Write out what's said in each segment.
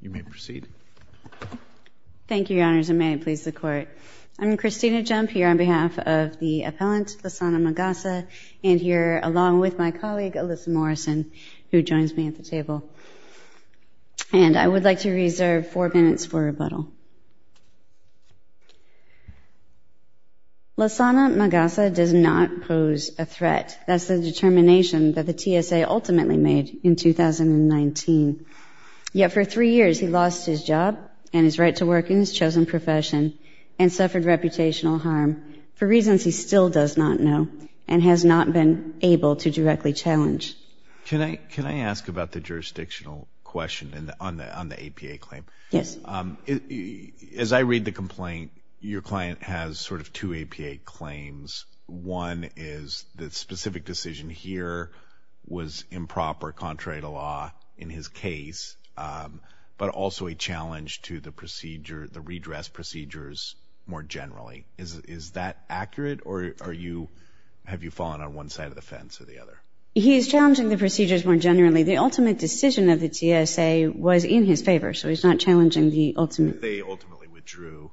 You may proceed. Thank you, Your Honors, and may it please the Court. I'm Christina Jump here on behalf of the appellant, Lassana Magassa, and here along with my colleague, Alyssa Morrison, who joins me at the table. And I would like to reserve four minutes for rebuttal. Lassana Magassa does not pose a threat. That's the determination that the TSA ultimately made in 2019. Yet for three years, he lost his job and his right to work in his chosen profession and suffered reputational harm for reasons he still does not know and has not been able to directly challenge. Can I ask about the jurisdictional question on the APA claim? Yes. As I read the complaint, your client has sort of two APA claims. One is the specific decision here was improper contrary to law in his case, but also a challenge to the redress procedures more generally. Is that accurate, or have you fallen on one side of the fence or the other? He is challenging the procedures more generally. The ultimate decision of the TSA was in his favor, so he's not challenging the ultimate. They ultimately withdrew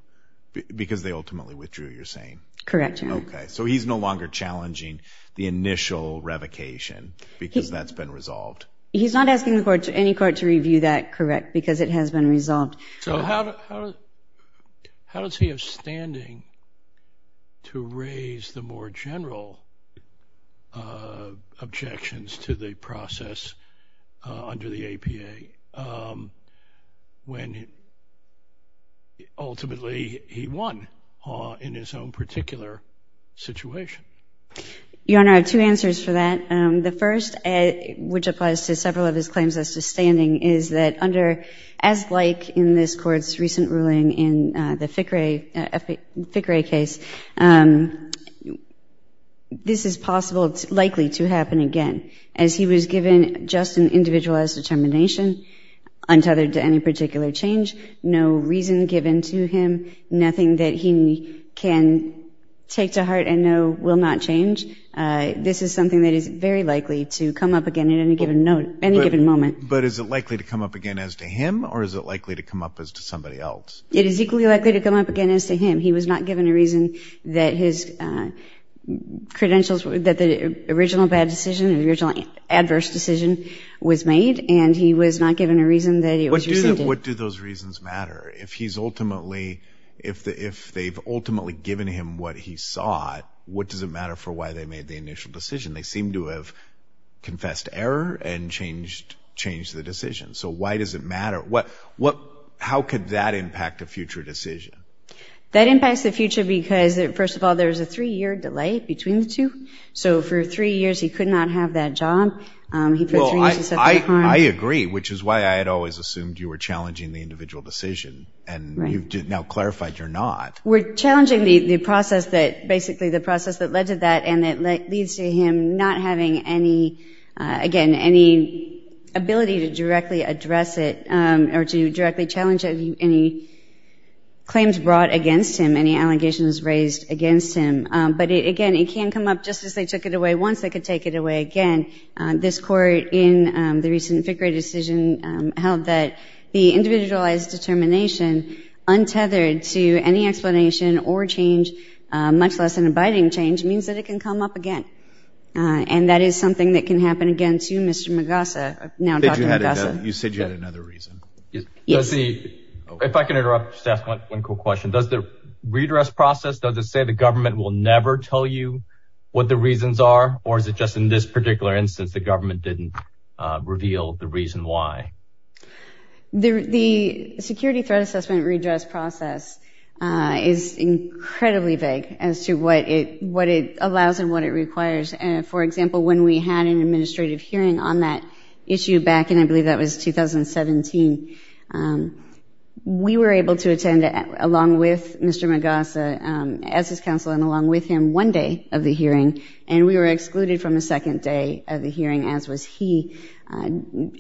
because they ultimately withdrew, you're saying? Correct, Your Honor. Okay, so he's no longer challenging the initial revocation because that's been resolved. He's not asking any court to review that, correct, because it has been resolved. So how does he have standing to raise the more general objections to the process under the APA when ultimately he won in his own particular situation? Your Honor, I have two answers for that. The first, which applies to several of his claims as to standing, is that as like in this Court's recent ruling in the FICRE case, this is likely to happen again. As he was given just an individualized determination untethered to any particular change, no reason given to him, nothing that he can take to heart and know will not change. This is something that is very likely to come up again at any given moment. But is it likely to come up again as to him, or is it likely to come up as to somebody else? It is equally likely to come up again as to him. He was not given a reason that the original bad decision, the original adverse decision was made, and he was not given a reason that it was rescinded. What do those reasons matter? If they've ultimately given him what he sought, what does it matter for why they made the initial decision? They seem to have confessed error and changed the decision, so why does it matter? How could that impact a future decision? That impacts the future because, first of all, there's a three-year delay between the two. So for three years he could not have that job. He put three years to set that time. Well, I agree, which is why I had always assumed you were challenging the individual decision, and you've now clarified you're not. We're challenging the process that, basically the process that led to that, and it leads to him not having any, again, any ability to directly address it or to directly challenge any claims brought against him, any allegations raised against him. But, again, it can come up just as they took it away once. They could take it away again. This Court in the recent FICRE decision held that the individualized determination untethered to any explanation or change, much less an abiding change, means that it can come up again, and that is something that can happen again to Mr. Magassa, now Dr. Magassa. You said you had another reason. If I can interrupt just to ask one quick question. Does the redress process, does it say the government will never tell you what the reasons are, or is it just in this particular instance the government didn't reveal the reason why? The security threat assessment redress process is incredibly vague as to what it allows and what it requires. For example, when we had an administrative hearing on that issue back in, I believe that was 2017, we were able to attend along with Mr. Magassa as his counsel and along with him one day of the hearing, and we were excluded from a second day of the hearing, as was he.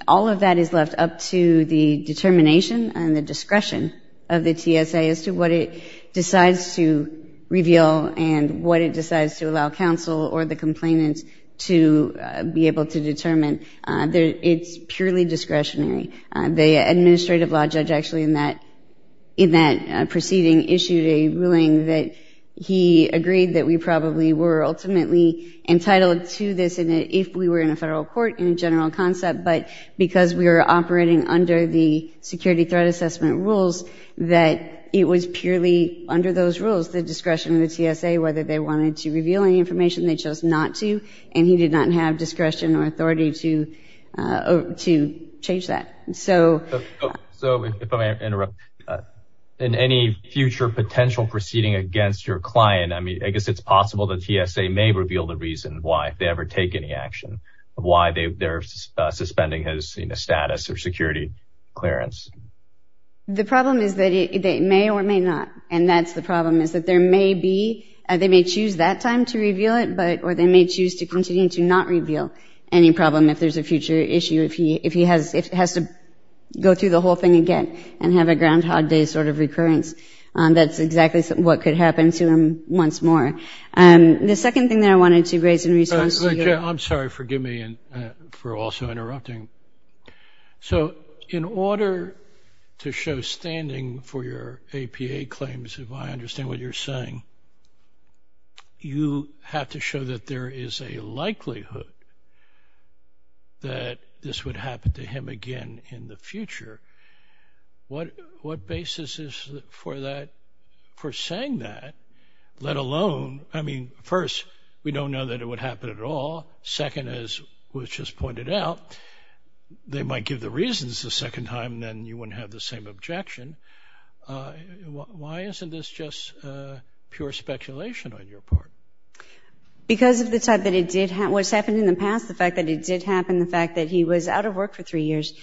All of that is left up to the determination and the discretion of the TSA as to what it decides to reveal and what it decides to allow counsel or the complainant to be able to determine. It's purely discretionary. The administrative law judge actually in that proceeding issued a ruling that he agreed that we probably were ultimately entitled to this if we were in a federal court in a general concept, but because we were operating under the security threat assessment rules, that it was purely under those rules, the discretion of the TSA, whether they wanted to reveal any information, they chose not to, and he did not have discretion or authority to change that. So if I may interrupt, in any future potential proceeding against your client, I guess it's possible the TSA may reveal the reason why, if they ever take any action, of why they're suspending his status or security clearance. The problem is that they may or may not, and that's the problem, is that there may be, they may choose that time to reveal it, or they may choose to continue to not reveal any problem if there's a future issue, if he has to go through the whole thing again and have a Groundhog Day sort of recurrence. That's exactly what could happen to him once more. The second thing that I wanted to raise in response to your- I'm sorry, forgive me for also interrupting. So in order to show standing for your APA claims, if I understand what you're saying, you have to show that there is a likelihood that this would happen to him again in the future. What basis is for that, for saying that, let alone, I mean, first, we don't know that it would happen at all. Second, as was just pointed out, they might give the reasons the second time, and then you wouldn't have the same objection. Why isn't this just pure speculation on your part? Because of the type that it did happen. What's happened in the past, the fact that it did happen, the fact that he was out of work for three years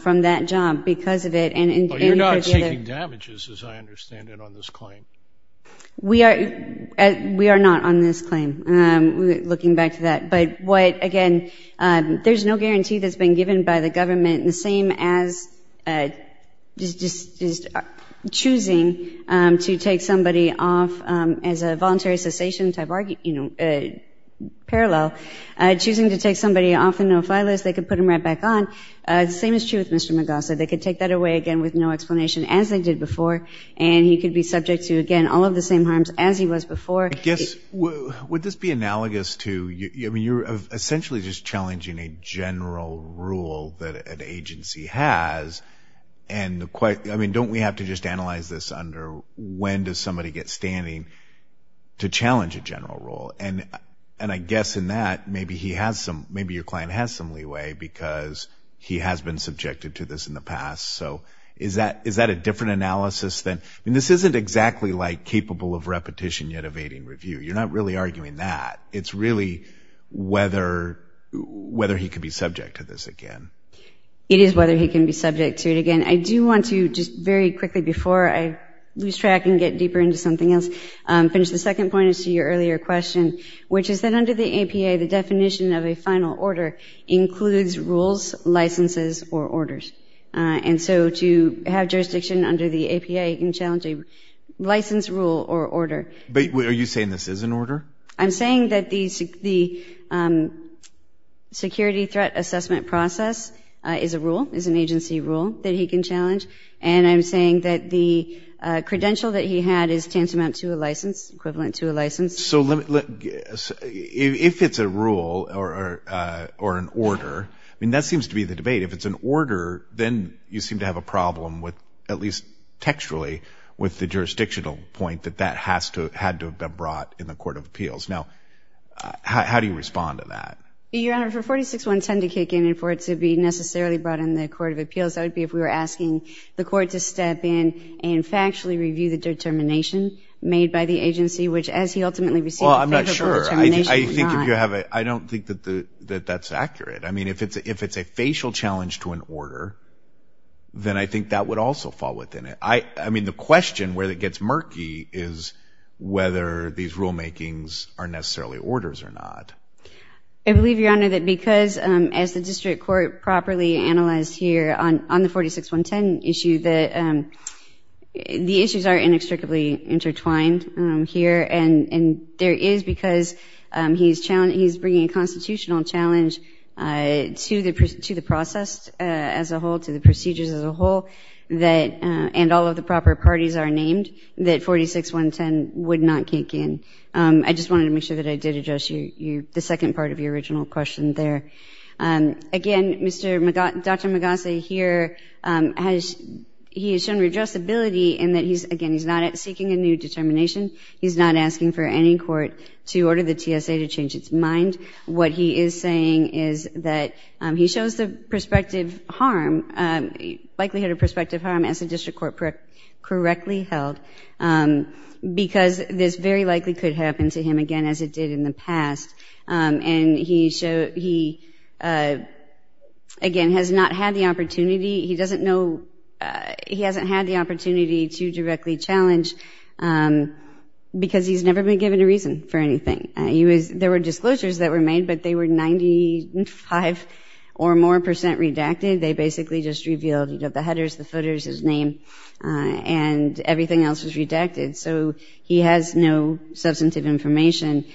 from that job because of it. But you're not seeking damages, as I understand it, on this claim. We are not on this claim, looking back to that. But what, again, there's no guarantee that's been given by the government, and the same as just choosing to take somebody off as a voluntary cessation type parallel, choosing to take somebody off the no-fly list, they could put him right back on. The same is true with Mr. Magasa. They could take that away, again, with no explanation, as they did before, and he could be subject to, again, all of the same harms as he was before. I guess, would this be analogous to, I mean, you're essentially just challenging a general rule that an agency has. I mean, don't we have to just analyze this under when does somebody get standing to challenge a general rule? And I guess in that, maybe your client has some leeway because he has been subjected to this in the past. So is that a different analysis? I mean, this isn't exactly like capable of repetition yet evading review. You're not really arguing that. It's really whether he could be subject to this again. It is whether he can be subject to it again. I do want to just very quickly, before I lose track and get deeper into something else, finish the second point as to your earlier question, which is that under the APA, the definition of a final order includes rules, licenses, or orders. And so to have jurisdiction under the APA, you can challenge a license rule or order. But are you saying this is an order? I'm saying that the security threat assessment process is a rule, is an agency rule that he can challenge. And I'm saying that the credential that he had is tantamount to a license, equivalent to a license. So if it's a rule or an order, I mean, that seems to be the debate. If it's an order, then you seem to have a problem with, at least textually, with the jurisdictional point that that had to have been brought in the Court of Appeals. Now, how do you respond to that? Your Honor, for 46-110 to kick in and for it to be necessarily brought in the Court of Appeals, that would be if we were asking the court to step in and factually review the determination made by the agency, which as he ultimately received a favorable determination was not. Well, I'm not sure. I don't think that that's accurate. I mean, if it's a facial challenge to an order, then I think that would also fall within it. I mean, the question where it gets murky is whether these rulemakings are necessarily orders or not. I believe, Your Honor, that because, as the district court properly analyzed here on the 46-110 issue, that the issues are inextricably intertwined here. And there is, because he's bringing a constitutional challenge to the process as a whole, to the procedures as a whole, and all of the proper parties are named, that 46-110 would not kick in. I just wanted to make sure that I did address the second part of your original question there. Again, Dr. Magasa here has shown redressability in that, again, he's not seeking a new determination. He's not asking for any court to order the TSA to change its mind. What he is saying is that he shows the perspective harm, likelihood of perspective harm, as the district court correctly held, because this very likely could happen to him again, as it did in the past. And he, again, has not had the opportunity. He doesn't know, he hasn't had the opportunity to directly challenge, because he's never been given a reason for anything. There were disclosures that were made, but they were 95 or more percent redacted. They basically just revealed the headers, the footers, his name, and everything else was redacted. So he has no substantive information.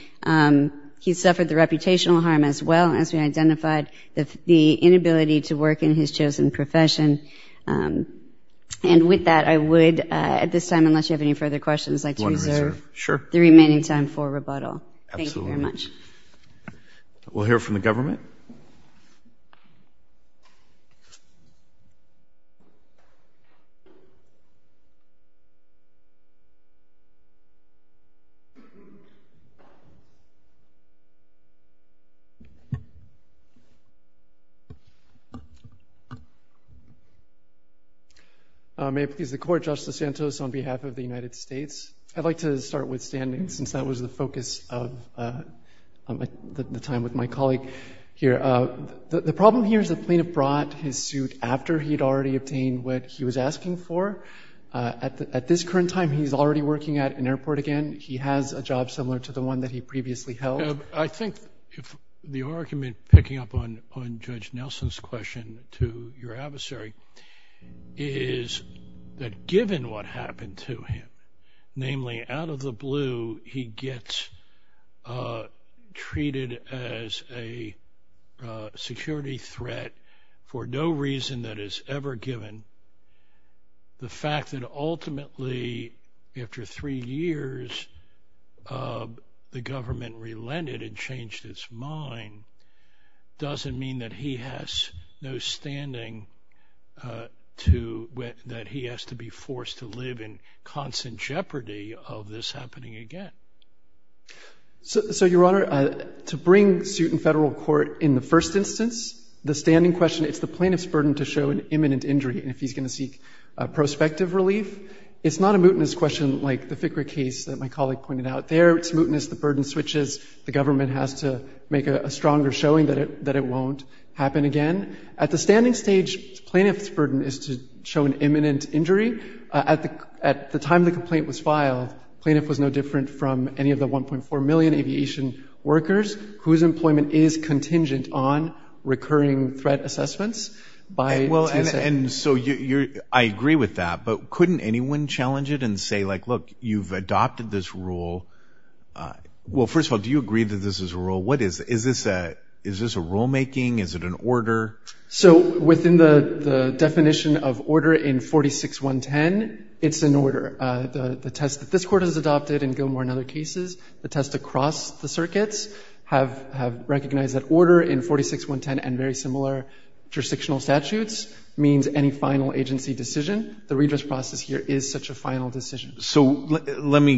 He's suffered the reputational harm as well, as we identified, the inability to work in his chosen profession. And with that, I would, at this time, unless you have any further questions, like to reserve the remaining time for rebuttal. Thank you very much. We'll hear from the government. May it please the Court, Justice Santos, on behalf of the United States. I'd like to start with standing, since that was the focus of the time with my colleague here. The problem here is the plaintiff brought his suit after he had already obtained what he was asking for. At this current time, he's already working at an airport again. He has a job similar to the one that he previously held. I think the argument, picking up on Judge Nelson's question to your adversary, is that given what happened to him, namely, out of the blue, he gets treated as a security threat for no reason that is ever given. The fact that ultimately, after three years, the government relented and changed its mind, doesn't mean that he has no standing, that he has to be forced to live in constant jeopardy of this happening again. So, Your Honor, to bring suit in federal court in the first instance, the standing question, it's the plaintiff's burden to show an imminent injury if he's going to seek prospective relief. It's not a mootness question like the FICRA case that my colleague pointed out there. It's mootness. The burden switches. The government has to make a stronger showing that it won't happen again. At the standing stage, plaintiff's burden is to show an imminent injury. At the time the complaint was filed, plaintiff was no different from any of the 1.4 million aviation workers whose employment is contingent on recurring threat assessments. I agree with that, but couldn't anyone challenge it and say, look, you've adopted this rule. Well, first of all, do you agree that this is a rule? Is this a rulemaking? Is it an order? Within the definition of order in 46.110, it's an order. The test that this court has adopted in Gilmore and other cases, the test across the circuits, have recognized that order in 46.110 and very similar jurisdictional statutes means any final agency decision. The redress process here is such a final decision. So let me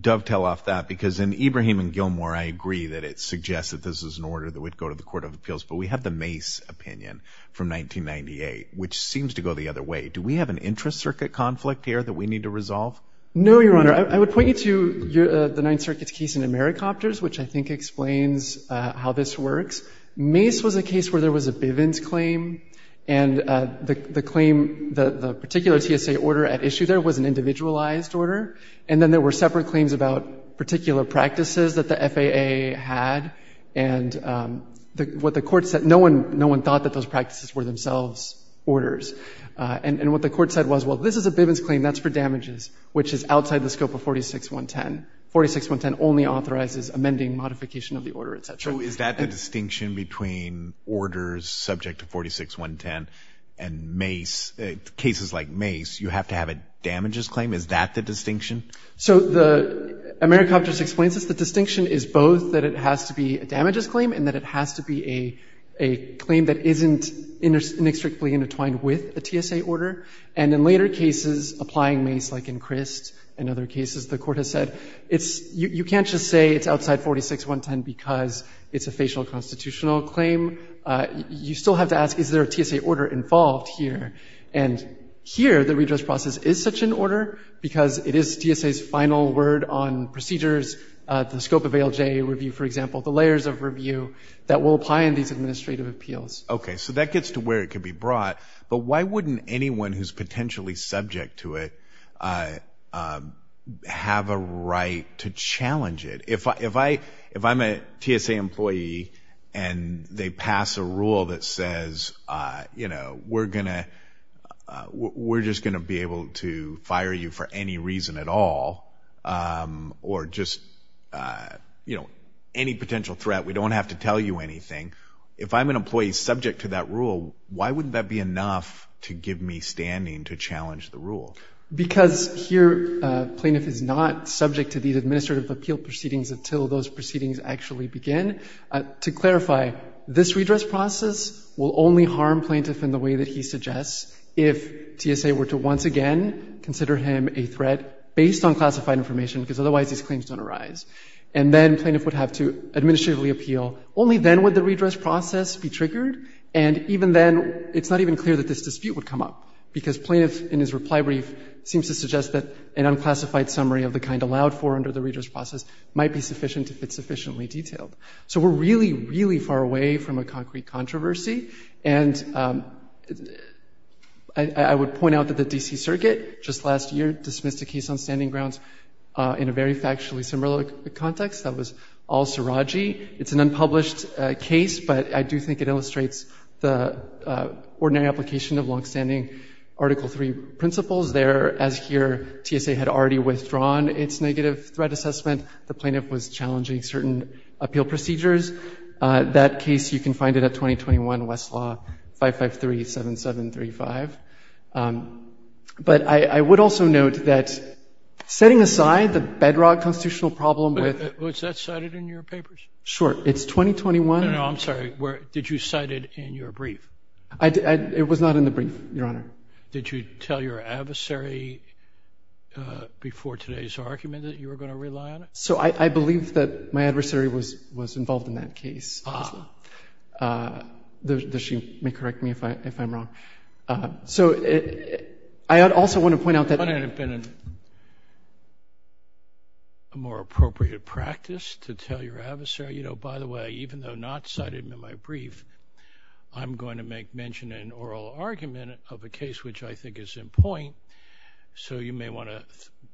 dovetail off that because in Ibrahim and Gilmore, I agree that it suggests that this is an order that would go to the Court of Appeals, but we have the Mace opinion from 1998, which seems to go the other way. Do we have an intra-circuit conflict here that we need to resolve? No, Your Honor. I would point you to the Ninth Circuit's case in Americopters, which I think explains how this works. Mace was a case where there was a Bivens claim, and the claim, the particular TSA order at issue there was an individualized order. And then there were separate claims about particular practices that the FAA had. And what the court said, no one thought that those practices were themselves orders. And what the court said was, well, this is a Bivens claim, that's for damages, which is outside the scope of 46.110. 46.110 only authorizes amending modification of the order, et cetera. So is that the distinction between orders subject to 46.110 and Mace, cases like Mace, you have to have a damages claim? Is that the distinction? So the Americopters explains this. The distinction is both that it has to be a damages claim and that it has to be a claim that isn't inextricably intertwined with a TSA order. And in later cases, applying Mace, like in Crist and other cases, the court has said, you can't just say it's outside 46.110 because it's a facial constitutional claim. You still have to ask, is there a TSA order involved here? And here, the redress process is such an order because it is TSA's final word on procedures, the scope of ALJ review, for example, the layers of review that will apply in these administrative appeals. Okay, so that gets to where it can be brought. But why wouldn't anyone who's potentially subject to it have a right to challenge it? If I'm a TSA employee and they pass a rule that says, you know, we're just going to be able to fire you for any reason at all or just, you know, any potential threat. We don't have to tell you anything. If I'm an employee subject to that rule, why wouldn't that be enough to give me standing to challenge the rule? Because here, plaintiff is not subject to these administrative appeal proceedings until those proceedings actually begin. To clarify, this redress process will only harm plaintiff in the way that he suggests if TSA were to once again consider him a threat based on classified information because otherwise these claims don't arise. And then plaintiff would have to administratively appeal. And even then, it's not even clear that this dispute would come up because plaintiff, in his reply brief, seems to suggest that an unclassified summary of the kind allowed for under the redress process might be sufficient if it's sufficiently detailed. So we're really, really far away from a concrete controversy. And I would point out that the D.C. Circuit just last year dismissed a case on standing grounds in a very factually similar context. That was al-Sarraji. It's an unpublished case, but I do think it illustrates the ordinary application of longstanding Article III principles there. As here, TSA had already withdrawn its negative threat assessment. The plaintiff was challenging certain appeal procedures. That case, you can find it at 2021 Westlaw 553-7735. But I would also note that setting aside the bedrock constitutional problem with- Was that cited in your papers? Sure. It's 2021- No, I'm sorry. Did you cite it in your brief? It was not in the brief, Your Honor. Did you tell your adversary before today's argument that you were going to rely on it? So I believe that my adversary was involved in that case. Ah. Does she correct me if I'm wrong? So I also want to point out that- Wouldn't it have been a more appropriate practice to tell your adversary, you know, by the way, even though not cited in my brief, I'm going to make mention in an oral argument of a case which I think is in point. So you may want to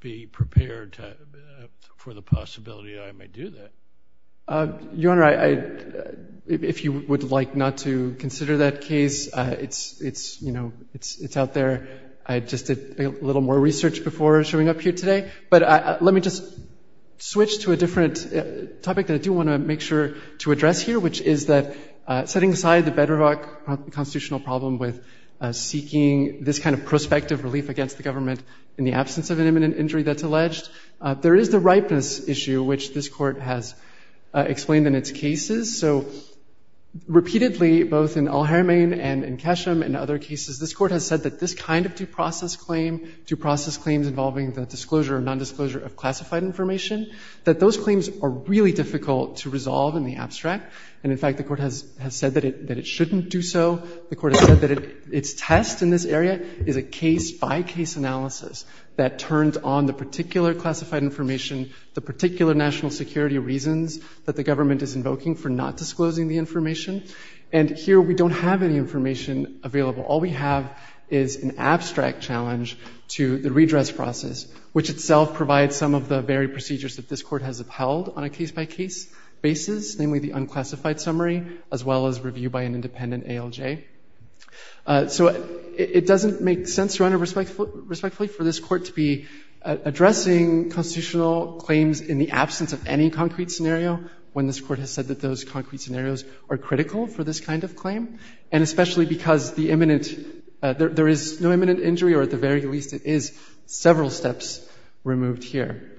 be prepared for the possibility that I may do that. Your Honor, if you would like not to consider that case, it's out there. I just did a little more research before showing up here today. But let me just switch to a different topic that I do want to make sure to address here, which is that setting aside the bedrock constitutional problem with seeking this kind of prospective relief against the government in the absence of an imminent injury that's alleged, there is the ripeness issue, which this Court has explained in its cases. So repeatedly, both in Al-Haramain and in Kesham and other cases, this Court has said that this kind of due process claim, due process claims involving the disclosure or nondisclosure of classified information, that those claims are really difficult to resolve in the abstract. And in fact, the Court has said that it shouldn't do so. The Court has said that its test in this area is a case-by-case analysis that turns on the particular classified information, the particular national security reasons that the government is invoking for not disclosing the information. And here we don't have any information available. All we have is an abstract challenge to the redress process, which itself provides some of the very procedures that this Court has upheld on a case-by-case basis, namely the unclassified summary, as well as review by an independent ALJ. So it doesn't make sense, Your Honor, respectfully, for this Court to be addressing constitutional claims in the absence of any concrete scenario when this Court has said that those concrete scenarios are critical for this kind of claim, and especially because there is no imminent injury or, at the very least, it is several steps removed here.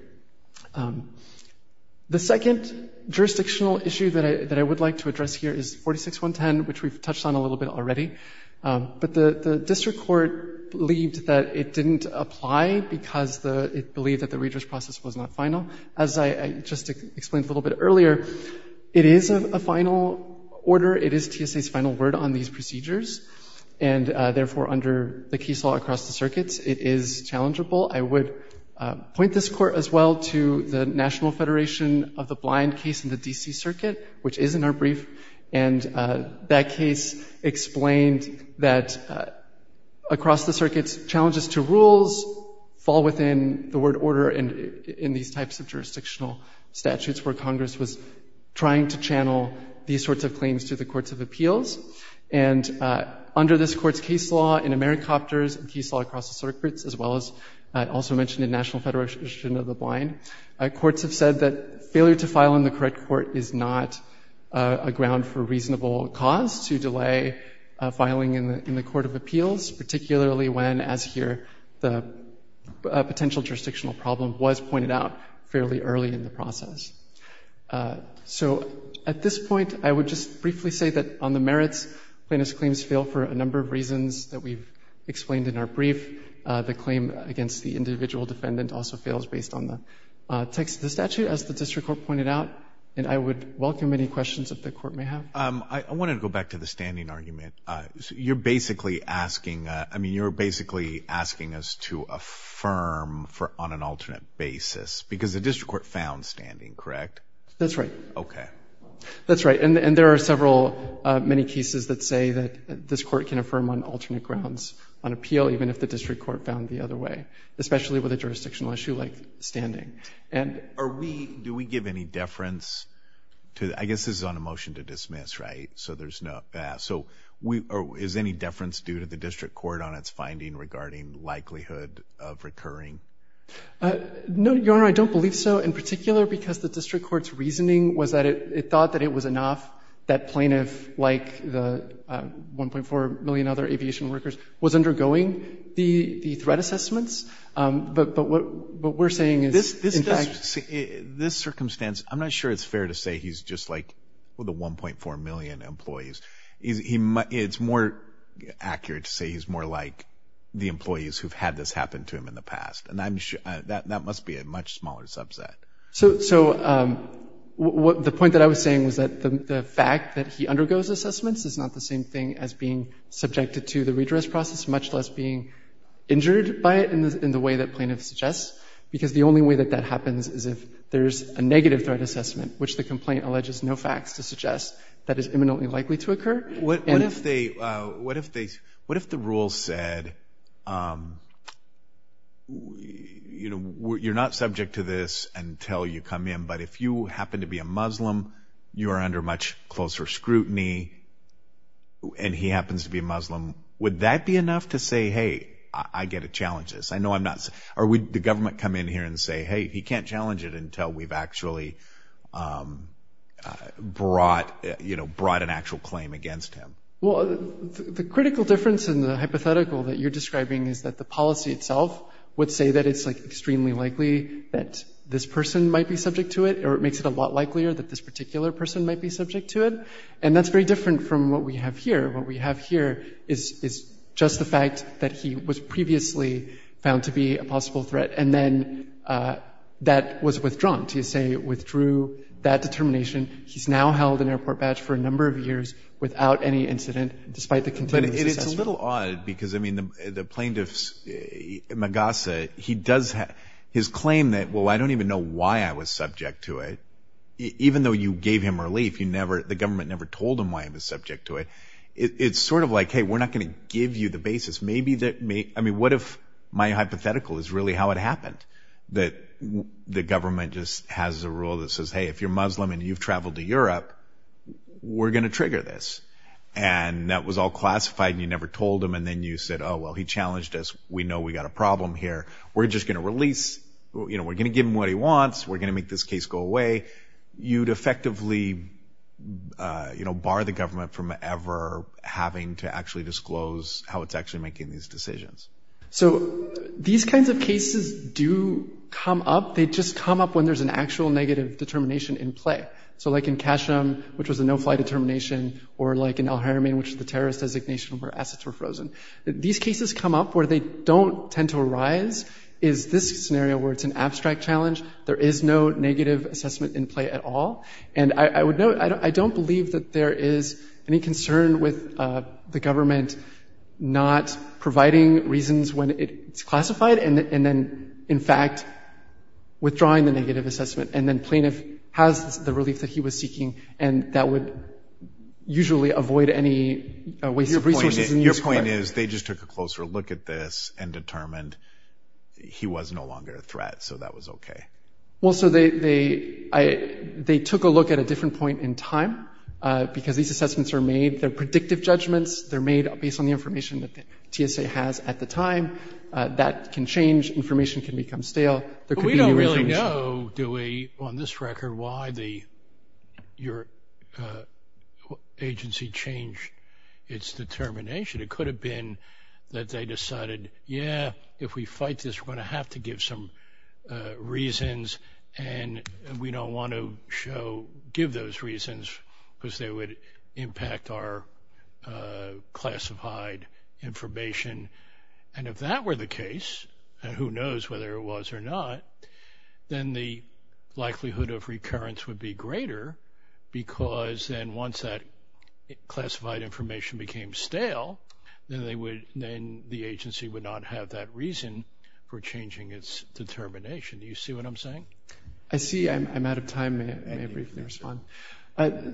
The second jurisdictional issue that I would like to address here is 46.110, which we've touched on a little bit already. But the district court believed that it didn't apply because it believed that the redress process was not final. As I just explained a little bit earlier, it is a final order. It is TSA's final word on these procedures. And therefore, under the case law across the circuits, it is challengeable. I would point this Court as well to the National Federation of the Blind case in the D.C. Circuit, which is in our brief, and that case explained that across the circuits, challenges to rules fall within the word order in these types of jurisdictional statutes where Congress was trying to channel these sorts of claims to the courts of appeals. And under this Court's case law in Americopters and case law across the circuits, as well as also mentioned in National Federation of the Blind, courts have said that failure to file in the correct court is not a ground for reasonable cause to delay filing in the court of appeals, particularly when, as here, the potential jurisdictional problem was pointed out fairly early in the process. So at this point, I would just briefly say that on the merits, plaintiff's claims fail for a number of reasons that we've explained in our brief. The claim against the individual defendant also fails based on the text of the statute, as the district court pointed out, and I would welcome any questions that the court may have. I want to go back to the standing argument. You're basically asking, I mean, you're basically asking us to affirm on an alternate basis because the district court found standing, correct? That's right. Okay. That's right. And there are several, many cases that say that this court can affirm on alternate grounds on appeal, even if the district court found the other way, especially with a jurisdictional issue like standing. And are we, do we give any deference to, I guess this is on a motion to dismiss, right? So there's no, so is any deference due to the district court on its finding regarding likelihood of recurring? No, Your Honor, I don't believe so. In particular because the district court's reasoning was that it thought that it was enough that plaintiff, like the 1.4 million other aviation workers, was undergoing the threat assessments. But what we're saying is, in fact. This circumstance, I'm not sure it's fair to say he's just like the 1.4 million employees. It's more accurate to say he's more like the employees who've had this happen to him in the past. And that must be a much smaller subset. So the point that I was saying was that the fact that he undergoes assessments is not the same thing as being subjected to the redress process, much less being injured by it in the way that plaintiff suggests. Because the only way that that happens is if there's a negative threat assessment, which the complaint alleges no facts to suggest that is imminently likely to occur. What if the rule said, you know, you're not subject to this until you come in, but if you happen to be a Muslim, you are under much closer scrutiny, and he happens to be Muslim. Would that be enough to say, hey, I get to challenge this? Or would the government come in here and say, hey, he can't challenge it until we've actually brought an actual claim against him? Well, the critical difference in the hypothetical that you're describing is that the policy itself would say that it's extremely likely that this person might be subject to it, or it makes it a lot likelier that this particular person might be subject to it. And that's very different from what we have here. What we have here is just the fact that he was previously found to be a possible threat, and then that was withdrawn to say it withdrew that determination. He's now held an airport badge for a number of years without any incident, despite the continuous assessment. But it's a little odd because, I mean, the plaintiff, Magasa, he does have his claim that, well, I don't even know why I was subject to it. Even though you gave him relief, the government never told him why he was subject to it. It's sort of like, hey, we're not going to give you the basis. I mean, what if my hypothetical is really how it happened, that the government just has a rule that says, hey, if you're Muslim and you've traveled to Europe, we're going to trigger this. And that was all classified, and you never told him, and then you said, oh, well, he challenged us. We know we've got a problem here. We're just going to release. We're going to give him what he wants. We're going to make this case go away. You'd effectively, you know, bar the government from ever having to actually disclose how it's actually making these decisions. So these kinds of cases do come up. They just come up when there's an actual negative determination in play. So like in Kashem, which was a no-fly determination, or like in al-Haramein, which is the terrorist designation where assets were frozen. These cases come up where they don't tend to arise is this scenario where it's an abstract challenge. There is no negative assessment in play at all. And I would note, I don't believe that there is any concern with the government not providing reasons when it's classified and then, in fact, withdrawing the negative assessment. And then plaintiff has the relief that he was seeking, and that would usually avoid any waste of resources. Your point is they just took a closer look at this and determined he was no longer a threat, so that was okay. Well, so they took a look at a different point in time because these assessments are made. They're predictive judgments. They're made based on the information that the TSA has at the time. That can change. Information can become stale. We don't really know, do we, on this record, why your agency changed its determination. It could have been that they decided, yeah, if we fight this, we're going to have to give some reasons, and we don't want to give those reasons because they would impact our classified information. And if that were the case, and who knows whether it was or not, then the likelihood of recurrence would be greater because then once that classified information became stale, then the agency would not have that reason for changing its determination. Do you see what I'm saying? I see. I'm out of time. May I briefly respond?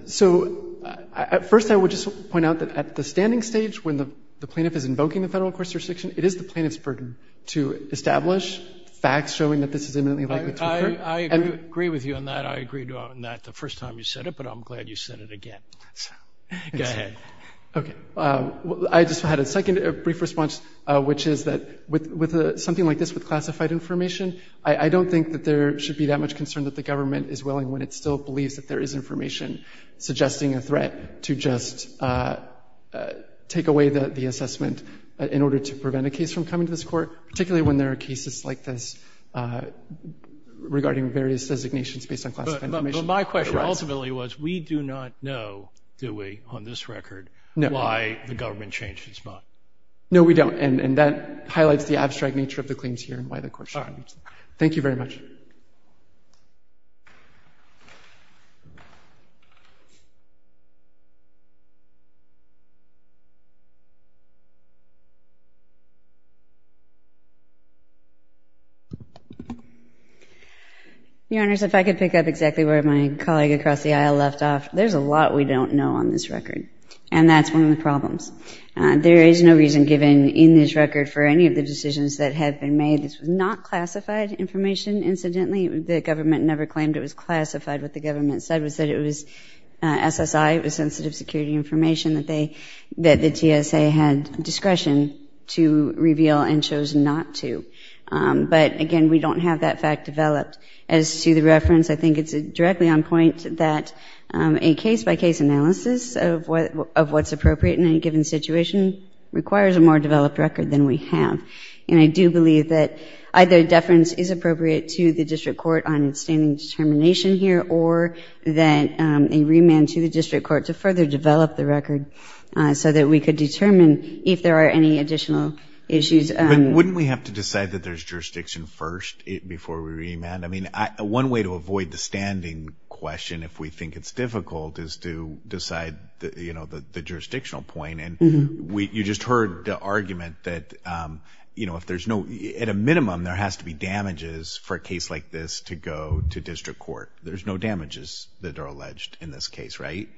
So at first, I would just point out that at the standing stage, when the plaintiff is invoking the federal course restriction, it is the plaintiff's burden to establish facts showing that this is imminently likely to occur. I agree with you on that. I agreed on that the first time you said it, but I'm glad you said it again. Go ahead. Okay. I just had a second brief response, which is that with something like this with classified information, I don't think that there should be that much concern that the government is willing when it still believes that there is information suggesting a threat to just take away the assessment in order to prevent a case from coming to this court, particularly when there are cases like this regarding various designations based on classified information. But my question ultimately was we do not know, do we, on this record, why the government changed its mind. No, we don't. And that highlights the abstract nature of the claims here and why the court shouldn't reach them. Thank you very much. Thank you. Your Honors, if I could pick up exactly where my colleague across the aisle left off. There's a lot we don't know on this record, and that's one of the problems. There is no reason given in this record for any of the decisions that have been made. This was not classified information, incidentally. The government never claimed it was classified. What the government said was that it was SSI, it was sensitive security information, that the TSA had discretion to reveal and chose not to. But, again, we don't have that fact developed. As to the reference, I think it's directly on point that a case-by-case analysis of what's appropriate in any given situation requires a more developed record than we have. And I do believe that either deference is appropriate to the district court on its standing determination here or that a remand to the district court to further develop the record so that we could determine if there are any additional issues. Wouldn't we have to decide that there's jurisdiction first before we remand? I mean, one way to avoid the standing question, if we think it's difficult, is to decide the jurisdictional point. And you just heard the argument that, you know, if there's no – at a minimum, there has to be damages for a case like this to go to district court. There's no damages that are alleged in this case, right?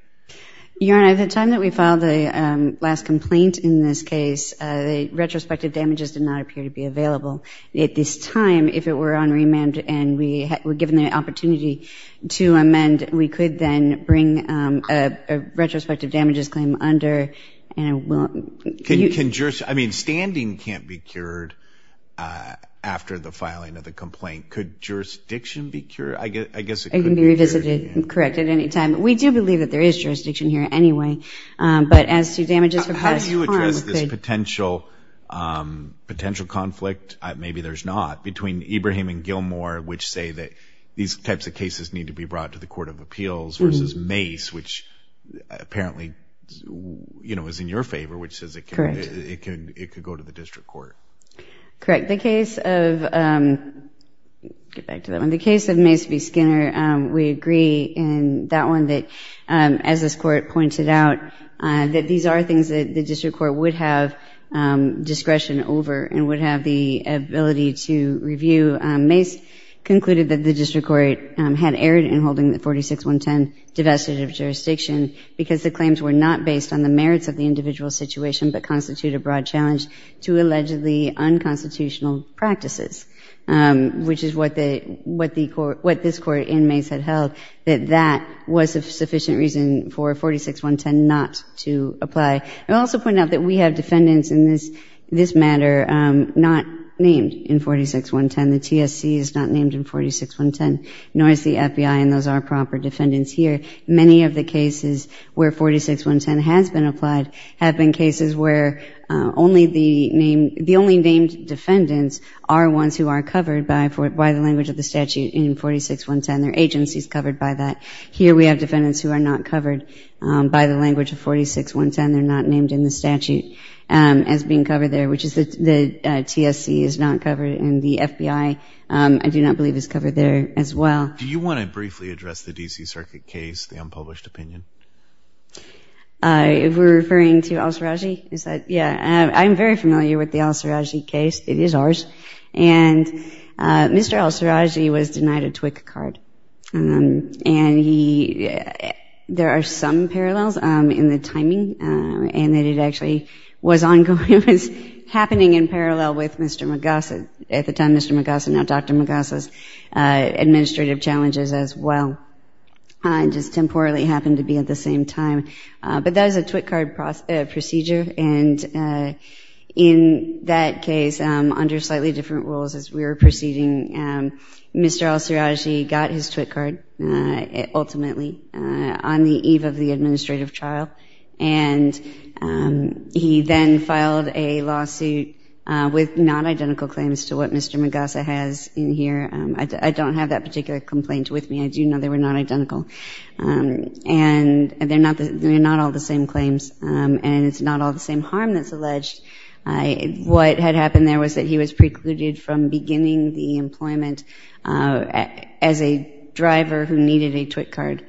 Your Honor, at the time that we filed the last complaint in this case, the retrospective damages did not appear to be available. At this time, if it were on remand and we were given the opportunity to amend, we could then bring a retrospective damages claim under. Can jurisdiction – I mean, standing can't be cured after the filing of the complaint. Could jurisdiction be cured? I guess it could be cured. It can be revisited and corrected at any time. We do believe that there is jurisdiction here anyway. But as to damages for past harm – How do you address this potential conflict – maybe there's not – versus Mace, which apparently, you know, is in your favor, which says it could go to the district court. Correct. The case of – get back to that one. The case of Mace v. Skinner, we agree in that one that, as this court pointed out, that these are things that the district court would have discretion over and would have the ability to review. Mace concluded that the district court had erred in holding the 46-110 divestitive jurisdiction because the claims were not based on the merits of the individual situation but constitute a broad challenge to allegedly unconstitutional practices, which is what this court and Mace had held, that that was a sufficient reason for 46-110 not to apply. It also pointed out that we have defendants in this matter not named in 46-110. The TSC is not named in 46-110, nor is the FBI, and those are proper defendants here. Many of the cases where 46-110 has been applied have been cases where only the named – the only named defendants are ones who are covered by the language of the statute in 46-110. They're agencies covered by that. Here we have defendants who are not covered by the language of 46-110. They're not named in the statute as being covered there, which is the TSC is not covered and the FBI, I do not believe, is covered there as well. Do you want to briefly address the D.C. Circuit case, the unpublished opinion? If we're referring to El-Sarraji, is that – yeah. I'm very familiar with the El-Sarraji case. It is ours. And Mr. El-Sarraji was denied a TWIC card, and he – there are some parallels in the timing, and that it actually was ongoing. It was happening in parallel with Mr. Magasa – at the time Mr. Magasa, now Dr. Magasa's administrative challenges as well, and just temporarily happened to be at the same time. But that was a TWIC card procedure, and in that case, under slightly different rules as we were proceeding, Mr. El-Sarraji got his TWIC card ultimately on the eve of the administrative trial, and he then filed a lawsuit with non-identical claims to what Mr. Magasa has in here. I don't have that particular complaint with me. I do know they were not identical. And they're not all the same claims, and it's not all the same harm that's alleged. What had happened there was that he was precluded from beginning the employment as a driver who needed a TWIC card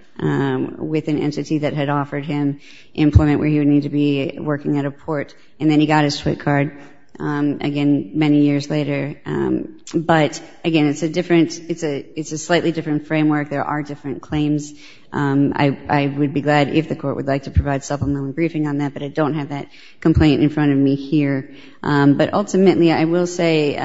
with an entity that had offered him employment where he would need to be working at a port, and then he got his TWIC card again many years later. But, again, it's a different – it's a slightly different framework. There are different claims. I would be glad if the court would like to provide supplemental briefing on that, but I don't have that complaint in front of me here. But, ultimately, I will say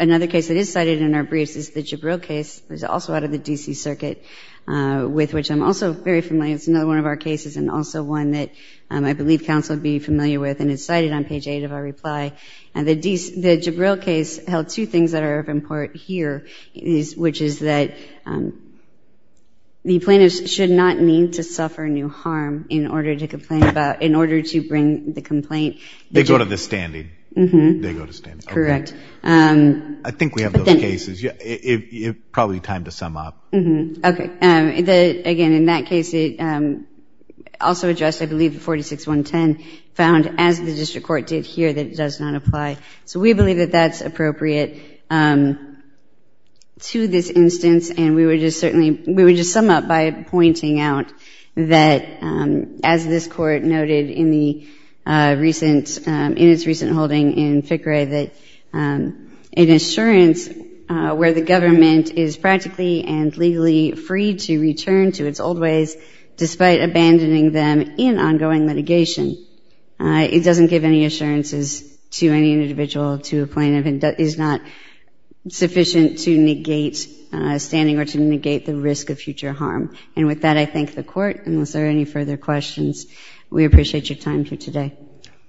another case that is cited in our briefs is the Jabril case. It was also out of the D.C. Circuit, with which I'm also very familiar. It's another one of our cases and also one that I believe counsel would be familiar with, and it's cited on page 8 of our reply. And the Jabril case held two things that are of important here, which is that the plaintiff should not need to suffer new harm in order to complain about – in order to bring the complaint. They go to the standing. Mm-hmm. They go to standing. Correct. I think we have those cases. It's probably time to sum up. Mm-hmm. Okay. Again, in that case, it also addressed, I believe, the 46-110 found, as the district court did here, that it does not apply. So we believe that that's appropriate to this instance, and we would just certainly – we would just sum up by pointing out that, as this Court noted in the recent – in its recent holding in FICRE, that an assurance where the government is practically and legally free to return to its old ways despite abandoning them in ongoing litigation, it doesn't give any assurances to any individual, to a plaintiff, and is not sufficient to negate standing or to negate the risk of future harm. And with that, I thank the Court. Unless there are any further questions, we appreciate your time here today.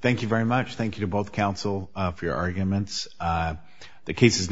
Thank you very much. Thank you to both counsel for your arguments. The case is now submitted.